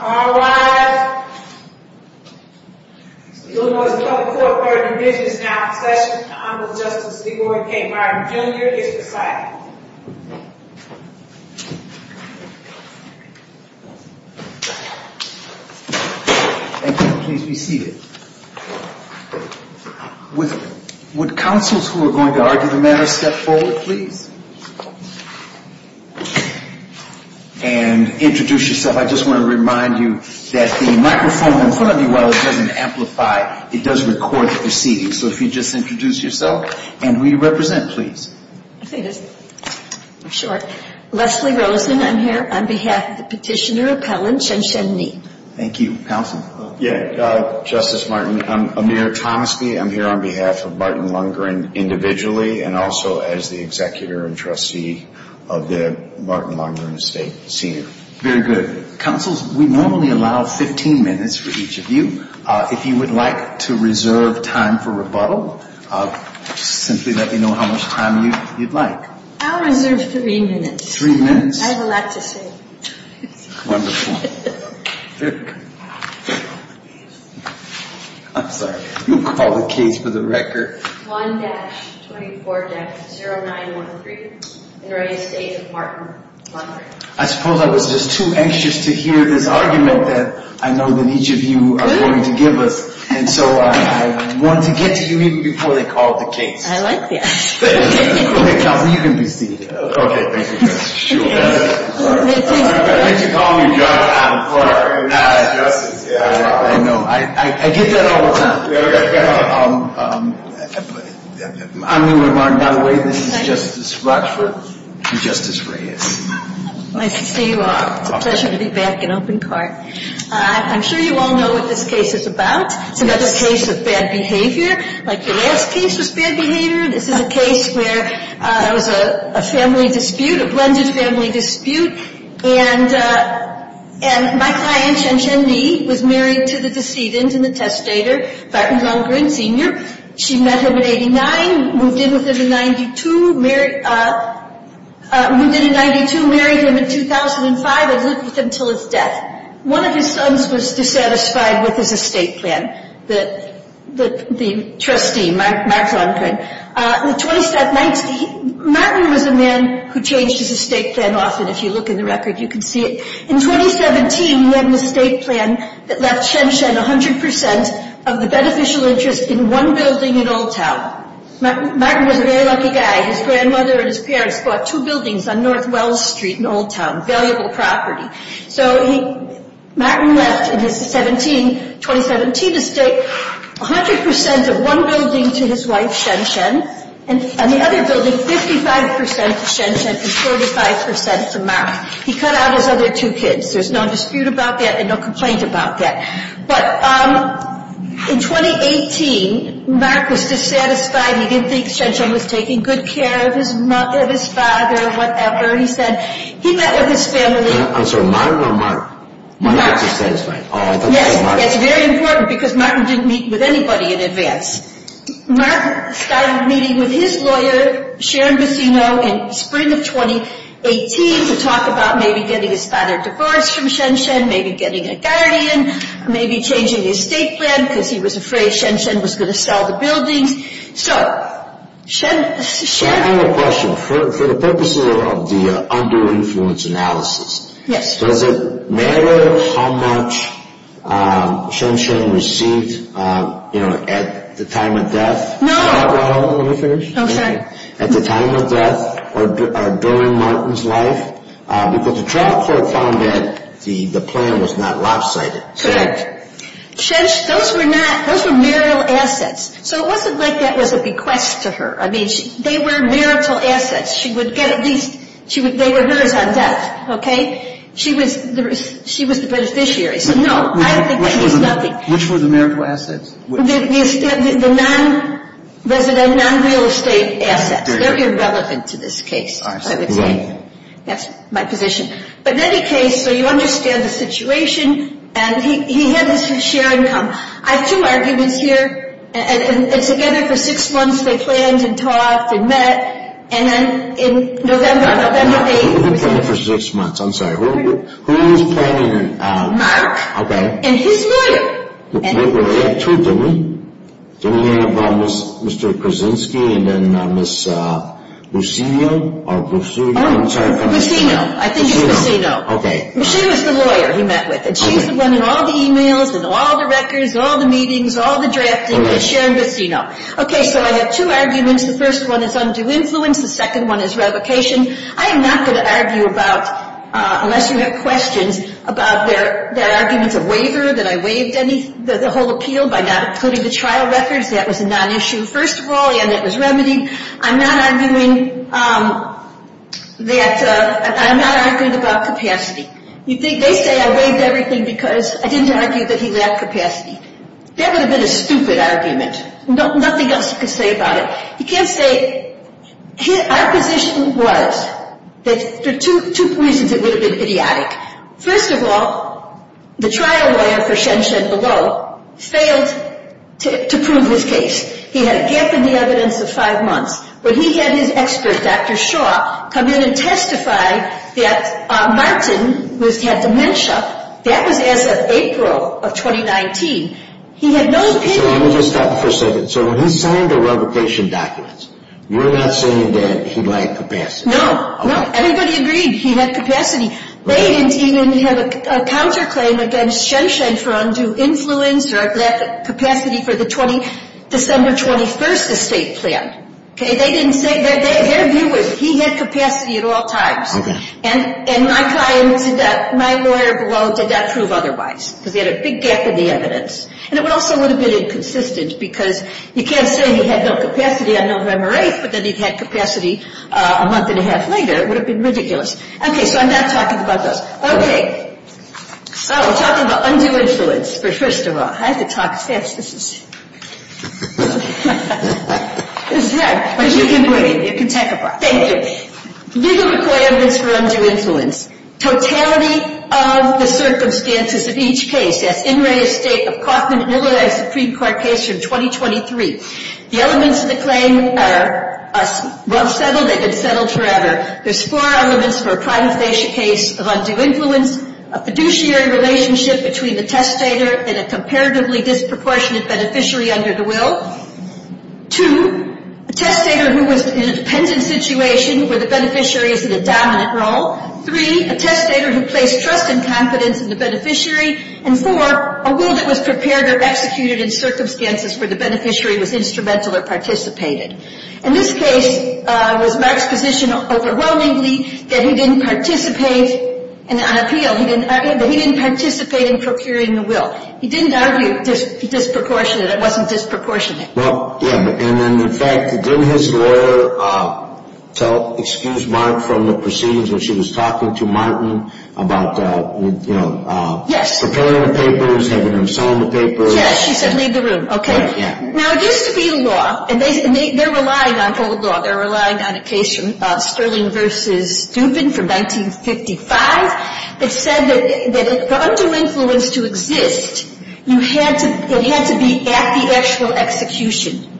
All rise. Illinois's public court burden division is now in session. Honorable Justice Leroy K. Martin, Jr. is decided. Thank you. Please be seated. Would counsels who are going to argue the matter step forward, please? And introduce yourself. I just want to remind you that the microphone in front of you, while it doesn't amplify, it does record the proceedings. So if you'd just introduce yourself and who you represent, please. Leslie Rosen, I'm here on behalf of the petitioner appellant Chen Shen Ni. Thank you. Counsel? Justice Martin, I'm Amir Thomasby. I'm here on behalf of Martin Lundgren individually and also as the executor and trustee of the Martin Lundgren estate, senior. Very good. Counsels, we normally allow 15 minutes for each of you. If you would like to reserve time for rebuttal, simply let me know how much time you'd like. I'll reserve three minutes. Three minutes? I have a lot to say. Wonderful. I'm sorry. We'll call the case for the record. I suppose I was just too anxious to hear this argument that I know that each of you are going to give us. And so I wanted to get to you even before they called the case. I like that. Okay, counsel, you can be seated. Okay, thank you. I like that you call me Judge Adam Clark. You're not a justice. I know. I get that all the time. I'm Amir Martin, by the way. This is Justice Rochford and Justice Reyes. Nice to see you all. It's a pleasure to be back in open court. I'm sure you all know what this case is about. It's another case of bad behavior, like the last case was bad behavior. This is a case where there was a family dispute, a blended family dispute, and my client, Chen Chen Ni, was married to the decedent and the testator, Martin Longgren Sr. She met him in 89, moved in with him in 92, married him in 2005 and lived with him until his death. One of his sons was dissatisfied with his estate plan, the trustee, Martin Longgren. Martin was a man who changed his estate plan often. If you look in the record, you can see it. In 2017, he had an estate plan that left Chen Chen 100% of the beneficial interest in one building in Old Town. Martin was a very lucky guy. His grandmother and his parents bought two buildings on North Wells Street in Old Town, valuable property. So Martin left in his 2017 estate 100% of one building to his wife, Chen Chen, and the other building 55% to Chen Chen and 45% to Mark. He cut out his other two kids. There's no dispute about that and no complaint about that. But in 2018, Mark was dissatisfied. He didn't think Chen Chen was taking good care of his father or whatever. He met with his family. I'm sorry, Martin or Mark? Mark. Oh, I thought you said Mark. Yes, that's very important because Martin didn't meet with anybody in advance. Mark started meeting with his lawyer, Sharon Bacino, in spring of 2018 to talk about maybe getting his father divorced from Chen Chen, maybe getting a guardian, maybe changing his estate plan because he was afraid Chen Chen was going to sell the buildings. So I have a question. For the purposes of the under-influence analysis, does it matter how much Chen Chen received at the time of death? No. At the time of death or during Martin's life? Because the trial court found that the plan was not lopsided. Correct. Those were marital assets. So it wasn't like that was a bequest to her. I mean, they were marital assets. They were hers on death. Okay? She was the beneficiary. So no, I don't think that means nothing. Which were the marital assets? The non-resident, non-real estate assets. They're irrelevant to this case, I would say. That's my position. But in any case, so you understand the situation. And he had his share income. I have two arguments here. And together for six months they planned and talked and met. And then in November, November 8th. They planned for six months. I'm sorry. Who was planning? Mark. Okay. And his mother. They had two, didn't they? Didn't they have Mr. Krasinski and then Ms. Lucino? Lucino. I think it's Lucino. Okay. Lucino is the lawyer he met with. And she's the one in all the e-mails, with all the records, all the meetings, all the drafting. It's Sharon Lucino. Okay, so I have two arguments. The first one is undue influence. The second one is revocation. I am not going to argue about, unless you have questions, about their arguments of waiver. That I waived the whole appeal by not including the trial records. That was a non-issue, first of all. And it was remedied. I'm not arguing that, I'm not arguing about capacity. They say I waived everything because I didn't argue that he lacked capacity. That would have been a stupid argument. Nothing else you could say about it. You can't say, our position was that for two reasons it would have been idiotic. First of all, the trial lawyer for Shenshen Below failed to prove his case. He had a gap in the evidence of five months. But he had his expert, Dr. Shaw, come in and testify that Martin, who has had dementia, that was as of April of 2019. He had no opinion. So let me just stop for a second. So when he signed the revocation documents, you're not saying that he lacked capacity? No, no. Everybody agreed he had capacity. They didn't even have a counterclaim against Shenshen for undue influence or a lack of capacity for the December 21st estate plan. Okay? They didn't say that. Their view was he had capacity at all times. Okay. And my client, my lawyer Below, did not prove otherwise because he had a big gap in the evidence. And it also would have been inconsistent because you can't say he had no capacity on November 8th but that he'd had capacity a month and a half later. It would have been ridiculous. Okay. So I'm not talking about those. So we're talking about undue influence. But first of all, I have to talk fast. This is hard. But you can breathe. You can take a breath. Thank you. Legal requirements for undue influence. Totality of the circumstances of each case. Yes. In re estate of Kaufman and Illinois Supreme Court case from 2023. The elements of the claim are well settled. They've been settled forever. There's four elements for a prima facie case of undue influence. A fiduciary relationship between the testator and a comparatively disproportionate beneficiary under the will. Two, a testator who was in a dependent situation where the beneficiary is in a dominant role. Three, a testator who placed trust and confidence in the beneficiary. And four, a will that was prepared or executed in circumstances where the beneficiary was instrumental or participated. In this case, it was Mark's position overwhelmingly that he didn't participate. And on appeal, he didn't argue that he didn't participate in procuring the will. He didn't argue disproportionate. It wasn't disproportionate. Well, yeah. And in fact, didn't his lawyer tell, excuse Mark from the proceedings when she was talking to Martin about, you know. Yes. Preparing the papers, having him sign the papers. Yes. She said leave the room. Okay. Yeah. Now, it used to be the law. And they're relying on old law. They're relying on a case from Sterling v. Dubin from 1955 that said that for undue influence to exist, it had to be at the actual execution.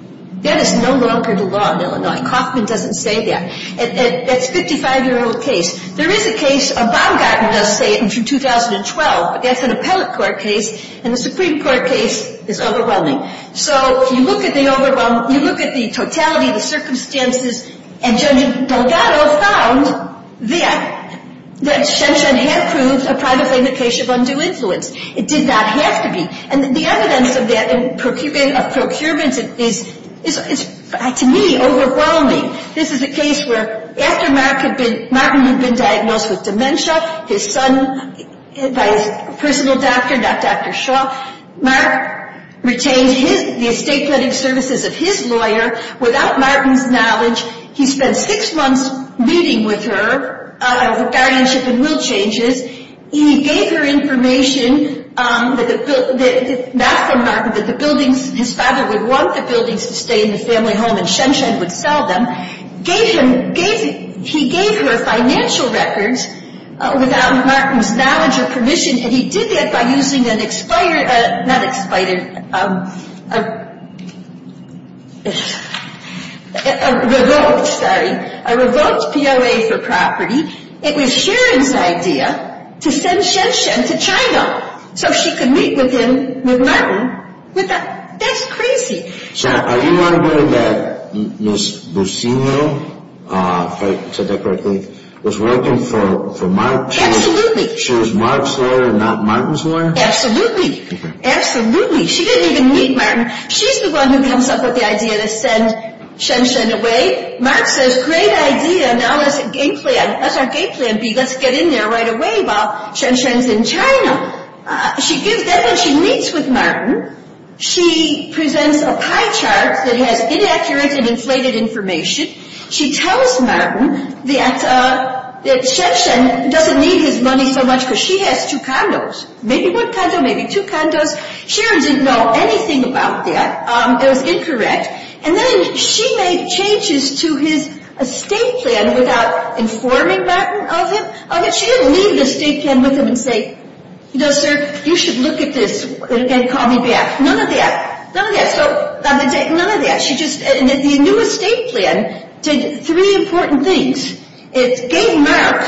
That is no longer the law in Illinois. Kaufman doesn't say that. That's a 55-year-old case. There is a case, Baumgarten does say it from 2012, but that's an appellate court case. And the Supreme Court case is overwhelming. So if you look at the overwhelming, if you look at the totality of the circumstances, and Judge Delgado found that Shenshen had proved a private plaintiff case of undue influence. It did not have to be. And the evidence of that in procurement is, to me, overwhelming. This is a case where after Martin had been diagnosed with dementia, his son, by his personal doctor, not Dr. Shaw, Mark retained the estate planning services of his lawyer without Martin's knowledge. He spent six months meeting with her, guardianship and will changes. He gave her information, not from Martin, but the buildings. His father would want the buildings to stay in the family home, and Shenshen would sell them. He gave her financial records without Martin's knowledge or permission. And he did that by using an expired, not expired, a revoked, sorry, a revoked POA for property. It was Sharon's idea to send Shenshen to China so she could meet with him, with Martin. That's crazy. So are you arguing that Ms. Burcino, if I said that correctly, was working for Mark? Absolutely. She was Mark's lawyer, not Martin's lawyer? Absolutely. Absolutely. She didn't even meet Martin. She's the one who comes up with the idea to send Shenshen away. Mark says, great idea, now let's get in there right away while Shenshen's in China. Then when she meets with Martin, she presents a pie chart that has inaccurate and inflated information. She tells Martin that Shenshen doesn't need his money so much because she has two condos. Maybe one condo, maybe two condos. Sharon didn't know anything about that. It was incorrect. And then she made changes to his estate plan without informing Martin of it. She didn't leave the estate plan with him and say, you know, sir, you should look at this and call me back. None of that. None of that. None of that. The new estate plan did three important things. It gave Mark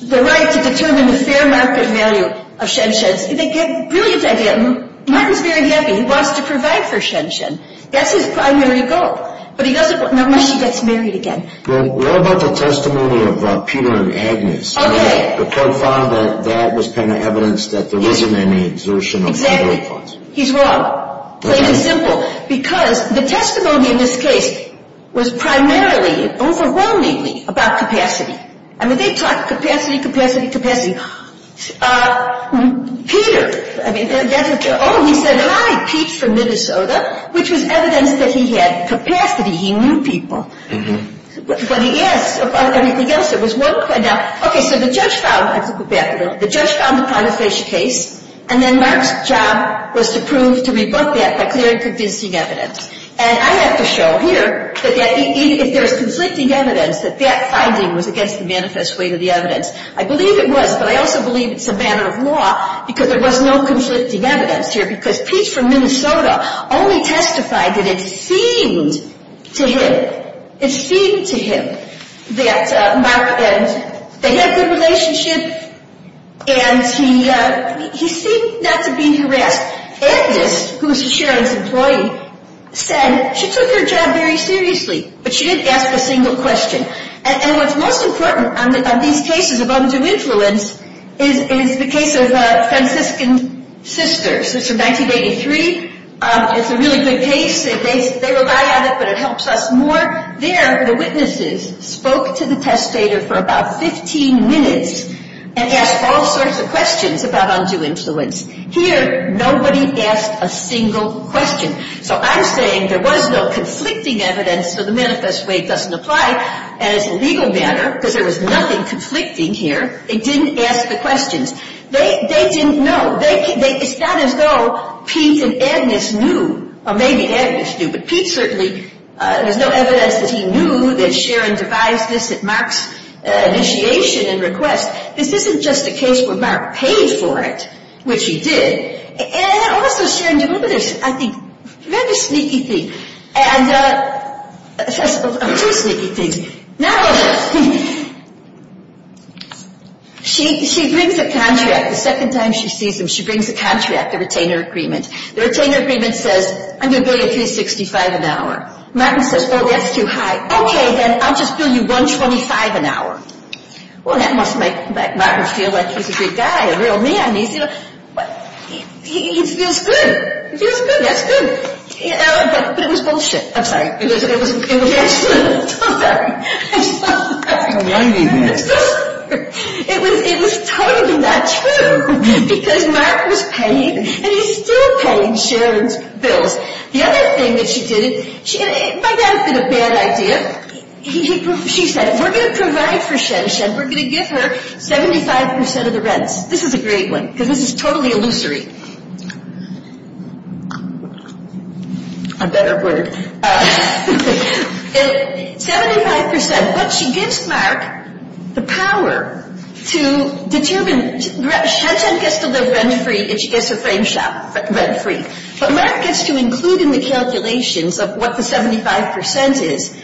the right to determine the fair market value of Shenshen's. Brilliant idea. Martin's very happy. He wants to provide for Shenshen. That's his primary goal. But he doesn't want to unless she gets married again. What about the testimony of Peter and Agnes? Okay. The profile, that was kind of evidence that there wasn't any exertion of federal funds. He's wrong. Plain and simple. Because the testimony in this case was primarily, overwhelmingly about capacity. I mean, they talked capacity, capacity, capacity. Peter, I mean, oh, he said hi, Pete from Minnesota, which was evidence that he had capacity. He knew people. But he asked about everything else. It was wonderful. Now, okay, so the judge found, I have to go back a little. The judge found the prima facie case. And then Mark's job was to prove, to rebut that by clear and convincing evidence. And I have to show here that if there's conflicting evidence, that that finding was against the manifest weight of the evidence. I believe it was, but I also believe it's a matter of law because there was no conflicting evidence here. Because Pete from Minnesota only testified that it seemed to him, that Mark and, they had a good relationship. And he seemed not to be harassed. Agnes, who was Sherrilyn's employee, said she took her job very seriously. But she didn't ask a single question. And what's most important on these cases of undue influence is the case of the Franciscan sisters. It's from 1983. It's a really good case. They rely on it, but it helps us more. There, the witnesses spoke to the testator for about 15 minutes and asked all sorts of questions about undue influence. Here, nobody asked a single question. So I'm saying there was no conflicting evidence, so the manifest weight doesn't apply. And as a legal matter, because there was nothing conflicting here, they didn't ask the questions. They didn't know. It's not as though Pete and Agnes knew, or maybe Agnes knew. But Pete certainly, there's no evidence that he knew that Sherrilyn devised this at Mark's initiation and request. This isn't just a case where Mark paid for it, which he did. And also, Sherrilyn delivered this, I think, very sneaky thing. And two sneaky things. Now, she brings a contract. The second time she sees him, she brings a contract, a retainer agreement. The retainer agreement says, I'm going to bill you 365 an hour. Martin says, oh, that's too high. Okay, then I'll just bill you 125 an hour. Well, that must make Martin feel like he's a good guy, a real man. He feels good. He feels good. That's good. But it was bullshit. I'm sorry. I'm sorry. I'm so sorry. I'm so sorry. It was totally not true, because Mark was paying, and he's still paying Sherrilyn's bills. The other thing that she did, it might not have been a bad idea. She said, we're going to provide for Sherrilyn. We're going to give her 75% of the rents. This is a great one, because this is totally illusory. A better word. 75%. But she gives Mark the power to determine. Shanshan gets to live rent-free, and she gets her frame rent-free. But Mark gets to include in the calculations of what the 75% is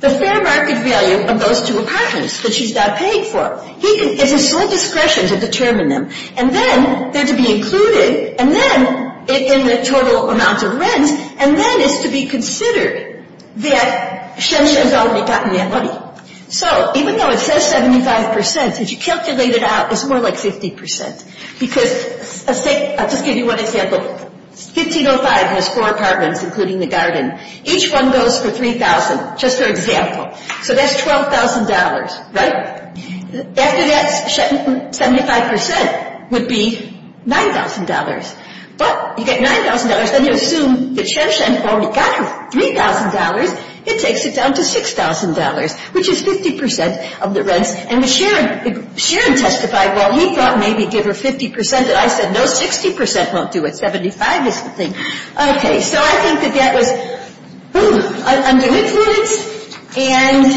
the fair market value of those two apartments that she's now paying for. It's his sole discretion to determine them. And then they're to be included in the total amount of rents, and then it's to be considered that Shanshan's already gotten that money. So even though it says 75%, if you calculate it out, it's more like 50%. I'll just give you one example. 1505 has four apartments, including the garden. Each one goes for $3,000, just for example. So that's $12,000, right? After that, 75% would be $9,000. But you get $9,000, then you assume that Shanshan already got her $3,000. It takes it down to $6,000, which is 50% of the rents. And Sharon testified, well, he thought maybe give her 50%, and I said, no, 60% won't do it. 75% is the thing. Okay. So I think that that was, boom, undue influence. And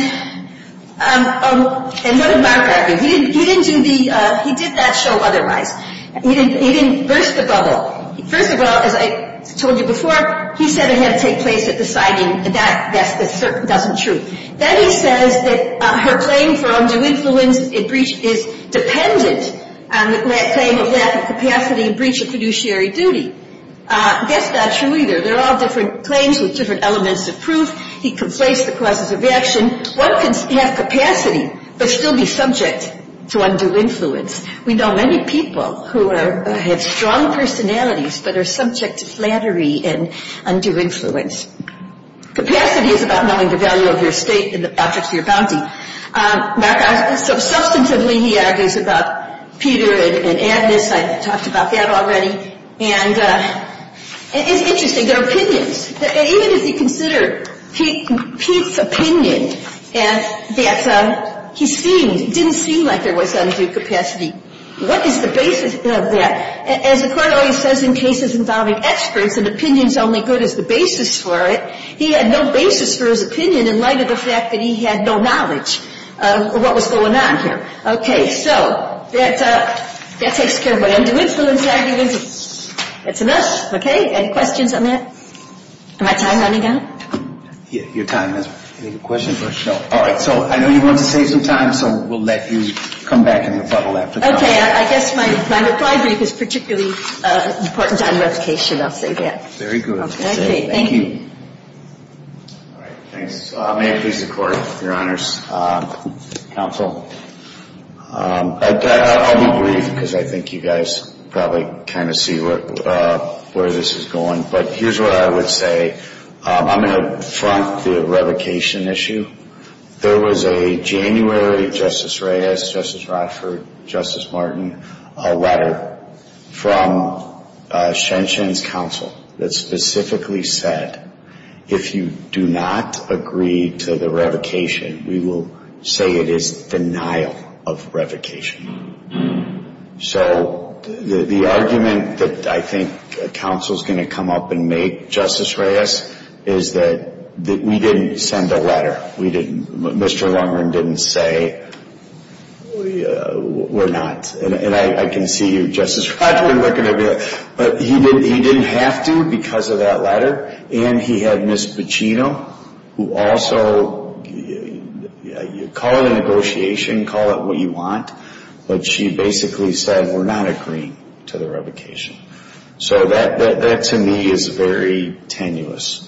what did Margaret do? He didn't do the – he did that show otherwise. He didn't burst the bubble. First of all, as I told you before, he said it had to take place at the siting. That doesn't true. Then he says that her claim for undue influence is dependent on the claim of lack of capacity and breach of fiduciary duty. That's not true either. They're all different claims with different elements of proof. He conflates the causes of action. One can have capacity but still be subject to undue influence. We know many people who have strong personalities but are subject to flattery and undue influence. Capacity is about knowing the value of your estate and the objects of your bounty. So substantively, he argues about Peter and Agnes. I talked about that already. And it's interesting, their opinions. Even if you consider Pete's opinion, that he seemed – didn't seem like there was undue capacity. What is the basis of that? As the court always says in cases involving experts, an opinion's only good as the basis for it. He had no basis for his opinion in light of the fact that he had no knowledge of what was going on here. Okay. So that takes care of undue influence. That's enough. Okay. Any questions on that? Am I time running out? Your time is up. Any questions? No. All right. So I know you want to save some time, so we'll let you come back in the bubble after. Okay. I guess my reply brief is particularly important on revocation. I'll say that. Very good. Okay. Thank you. All right. Thanks. So may it please the Court, Your Honors, Counsel. I'll be brief because I think you guys probably kind of see where this is going. But here's what I would say. I'm going to front the revocation issue. There was a January, Justice Reyes, Justice Rochford, Justice Martin, a letter from Shenshen's counsel that specifically said, if you do not agree to the revocation, we will say it is denial of revocation. So the argument that I think counsel is going to come up and make, Justice Reyes, is that we didn't send a letter. We didn't. Mr. Lundgren didn't say we're not. And I can see you, Justice Rochford, looking at me like, but he didn't have to because of that letter. And he had Ms. Pacino, who also, call it a negotiation, call it what you want, but she basically said we're not agreeing to the revocation. So that, to me, is very tenuous.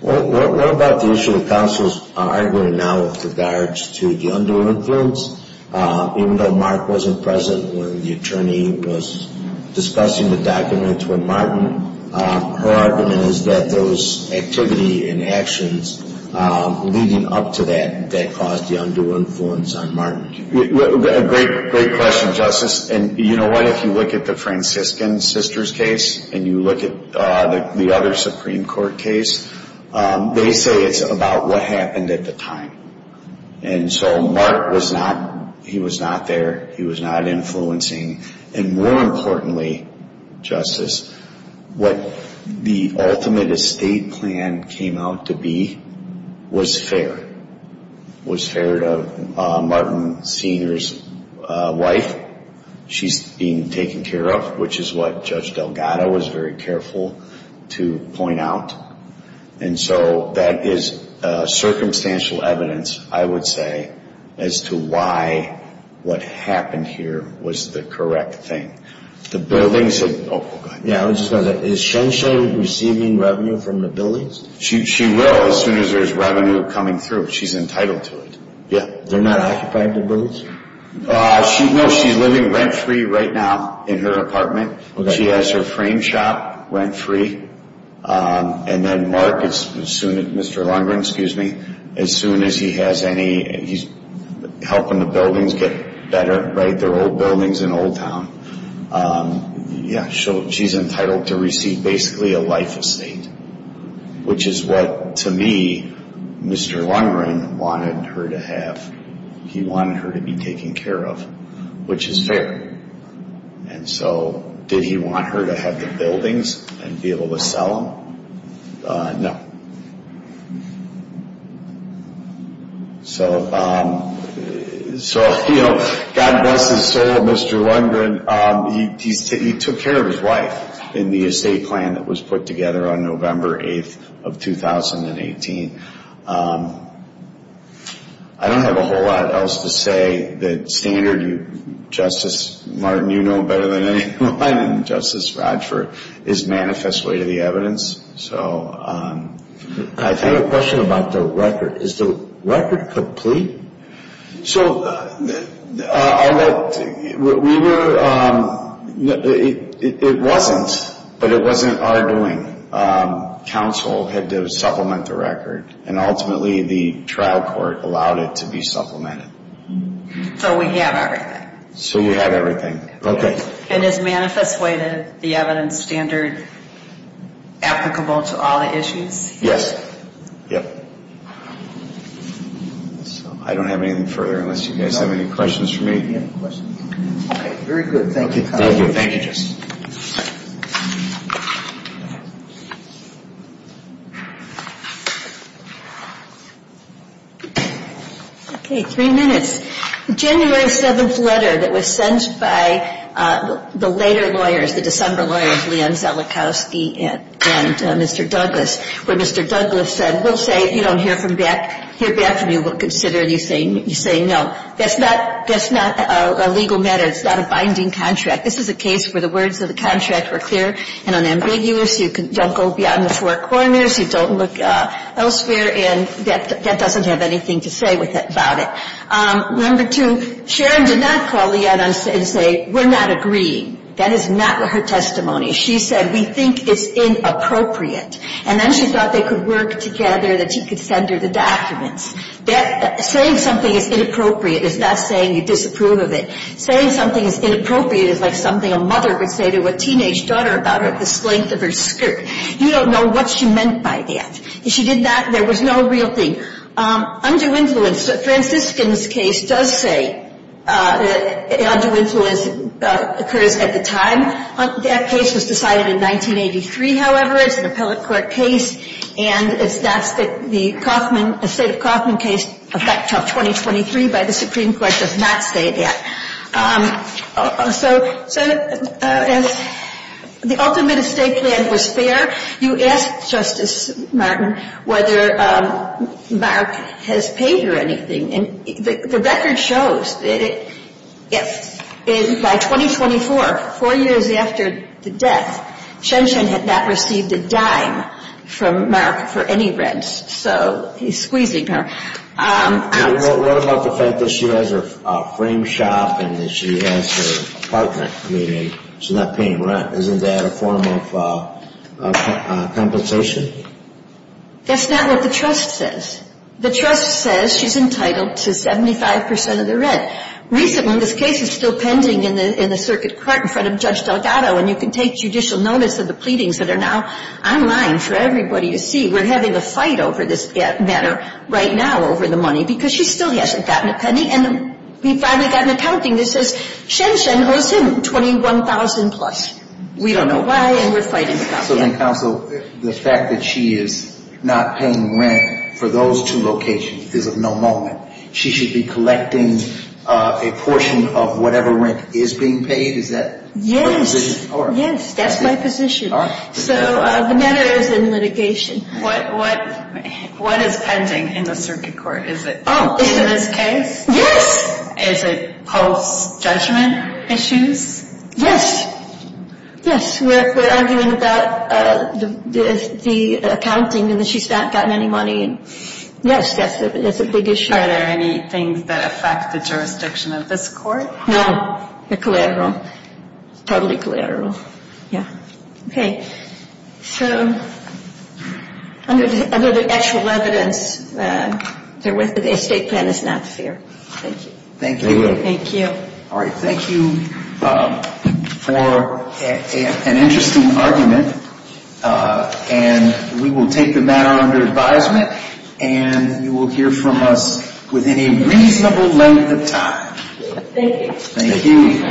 What about the issue that counsel is arguing now with regards to the undue influence? Even though Mark wasn't present when the attorney was discussing the documents with Martin, her argument is that those activity and actions leading up to that, that caused the undue influence on Martin. Great question, Justice. And you know what? If you look at the Franciscan sisters case and you look at the other Supreme Court case, they say it's about what happened at the time. And so Mark was not there. He was not influencing. And more importantly, Justice, what the ultimate estate plan came out to be was fair. It was fair to Martin Sr.'s wife. She's being taken care of, which is what Judge Delgado was very careful to point out. And so that is circumstantial evidence, I would say, as to why what happened here was the correct thing. The buildings had – oh, go ahead. Yeah, I was just going to say, is Shen Shen receiving revenue from the buildings? She will as soon as there's revenue coming through. She's entitled to it. Yeah. They're not occupying the buildings? No, she's living rent-free right now in her apartment. She has her frame shop rent-free. And then Mark, Mr. Lundgren, excuse me, as soon as he has any – he's helping the buildings get better, right? They're old buildings in Old Town. Yeah, so she's entitled to receive basically a life estate, which is what, to me, Mr. Lundgren wanted her to have. He wanted her to be taken care of, which is fair. And so did he want her to have the buildings and be able to sell them? No. So, you know, God bless his soul, Mr. Lundgren. He took care of his wife in the estate plan that was put together on November 8th of 2018. I don't have a whole lot else to say. The standard, Justice Martin, you know better than anyone, and Justice Radford, is manifest way to the evidence. I have a question about the record. Is the record complete? So, it wasn't, but it wasn't our doing. Counsel had to supplement the record, and ultimately the trial court allowed it to be supplemented. So we have everything. So we have everything. And is manifest way to the evidence standard applicable to all the issues? Yes. I don't have anything further unless you guys have any questions for me. Okay, very good. Thank you. Thank you, Justice. Okay, three minutes. January 7th letter that was sent by the later lawyers, the December lawyers, Leon Zelikowski and Mr. Douglas, where Mr. Douglas said, we'll say if you don't hear back from me, we'll consider you saying no. That's not a legal matter. It's not a binding contract. This is a case where the words of the contract were clear and unambiguous. You don't go beyond the four corners. You don't look elsewhere. And that doesn't have anything to say about it. Number two, Sharon did not call Leon and say, we're not agreeing. That is not her testimony. She said, we think it's inappropriate. And then she thought they could work together, that he could send her the documents. Saying something is inappropriate is not saying you disapprove of it. Saying something is inappropriate is like something a mother would say to a teenage daughter about her at the length of her skirt. You don't know what she meant by that. If she did that, there was no real thing. Undue influence. Franciscan's case does say undue influence occurs at the time. That case was decided in 1983, however. It's an appellate court case. And it's not that the Kaufman — estate of Kaufman case, effect of 2023 by the Supreme Court, does not say that. So the ultimate estate plan was fair. You asked, Justice Martin, whether Mark has paid her anything. The record shows that by 2024, four years after the death, Chen Chen had not received a dime from Mark for any rent. So he's squeezing her out. What about the fact that she has her frame shop and that she has her apartment? I mean, she's not paying rent. Isn't that a form of compensation? That's not what the trust says. The trust says she's entitled to 75 percent of the rent. Recently, this case is still pending in the circuit court in front of Judge Delgado, and you can take judicial notice of the pleadings that are now online for everybody to see. We're having a fight over this matter right now over the money because she still hasn't gotten a penny. And we finally got an accounting that says Chen Chen owes him $21,000-plus. We don't know why, and we're fighting about that. So then, counsel, the fact that she is not paying rent for those two locations is of no moment. She should be collecting a portion of whatever rent is being paid? Is that her position? That's my position. So the matter is in litigation. What is pending in the circuit court? Is it this case? Yes. Is it post-judgment issues? Yes. Yes. We're arguing about the accounting and that she's not gotten any money. Yes, that's a big issue. Are there any things that affect the jurisdiction of this court? No. They're collateral. Totally collateral. Yeah. Okay. So under the actual evidence, the estate plan is not fair. Thank you. Thank you. Thank you. All right. Thank you for an interesting argument, and we will take the matter under advisement, and you will hear from us within a reasonable length of time. Thank you. Thank you.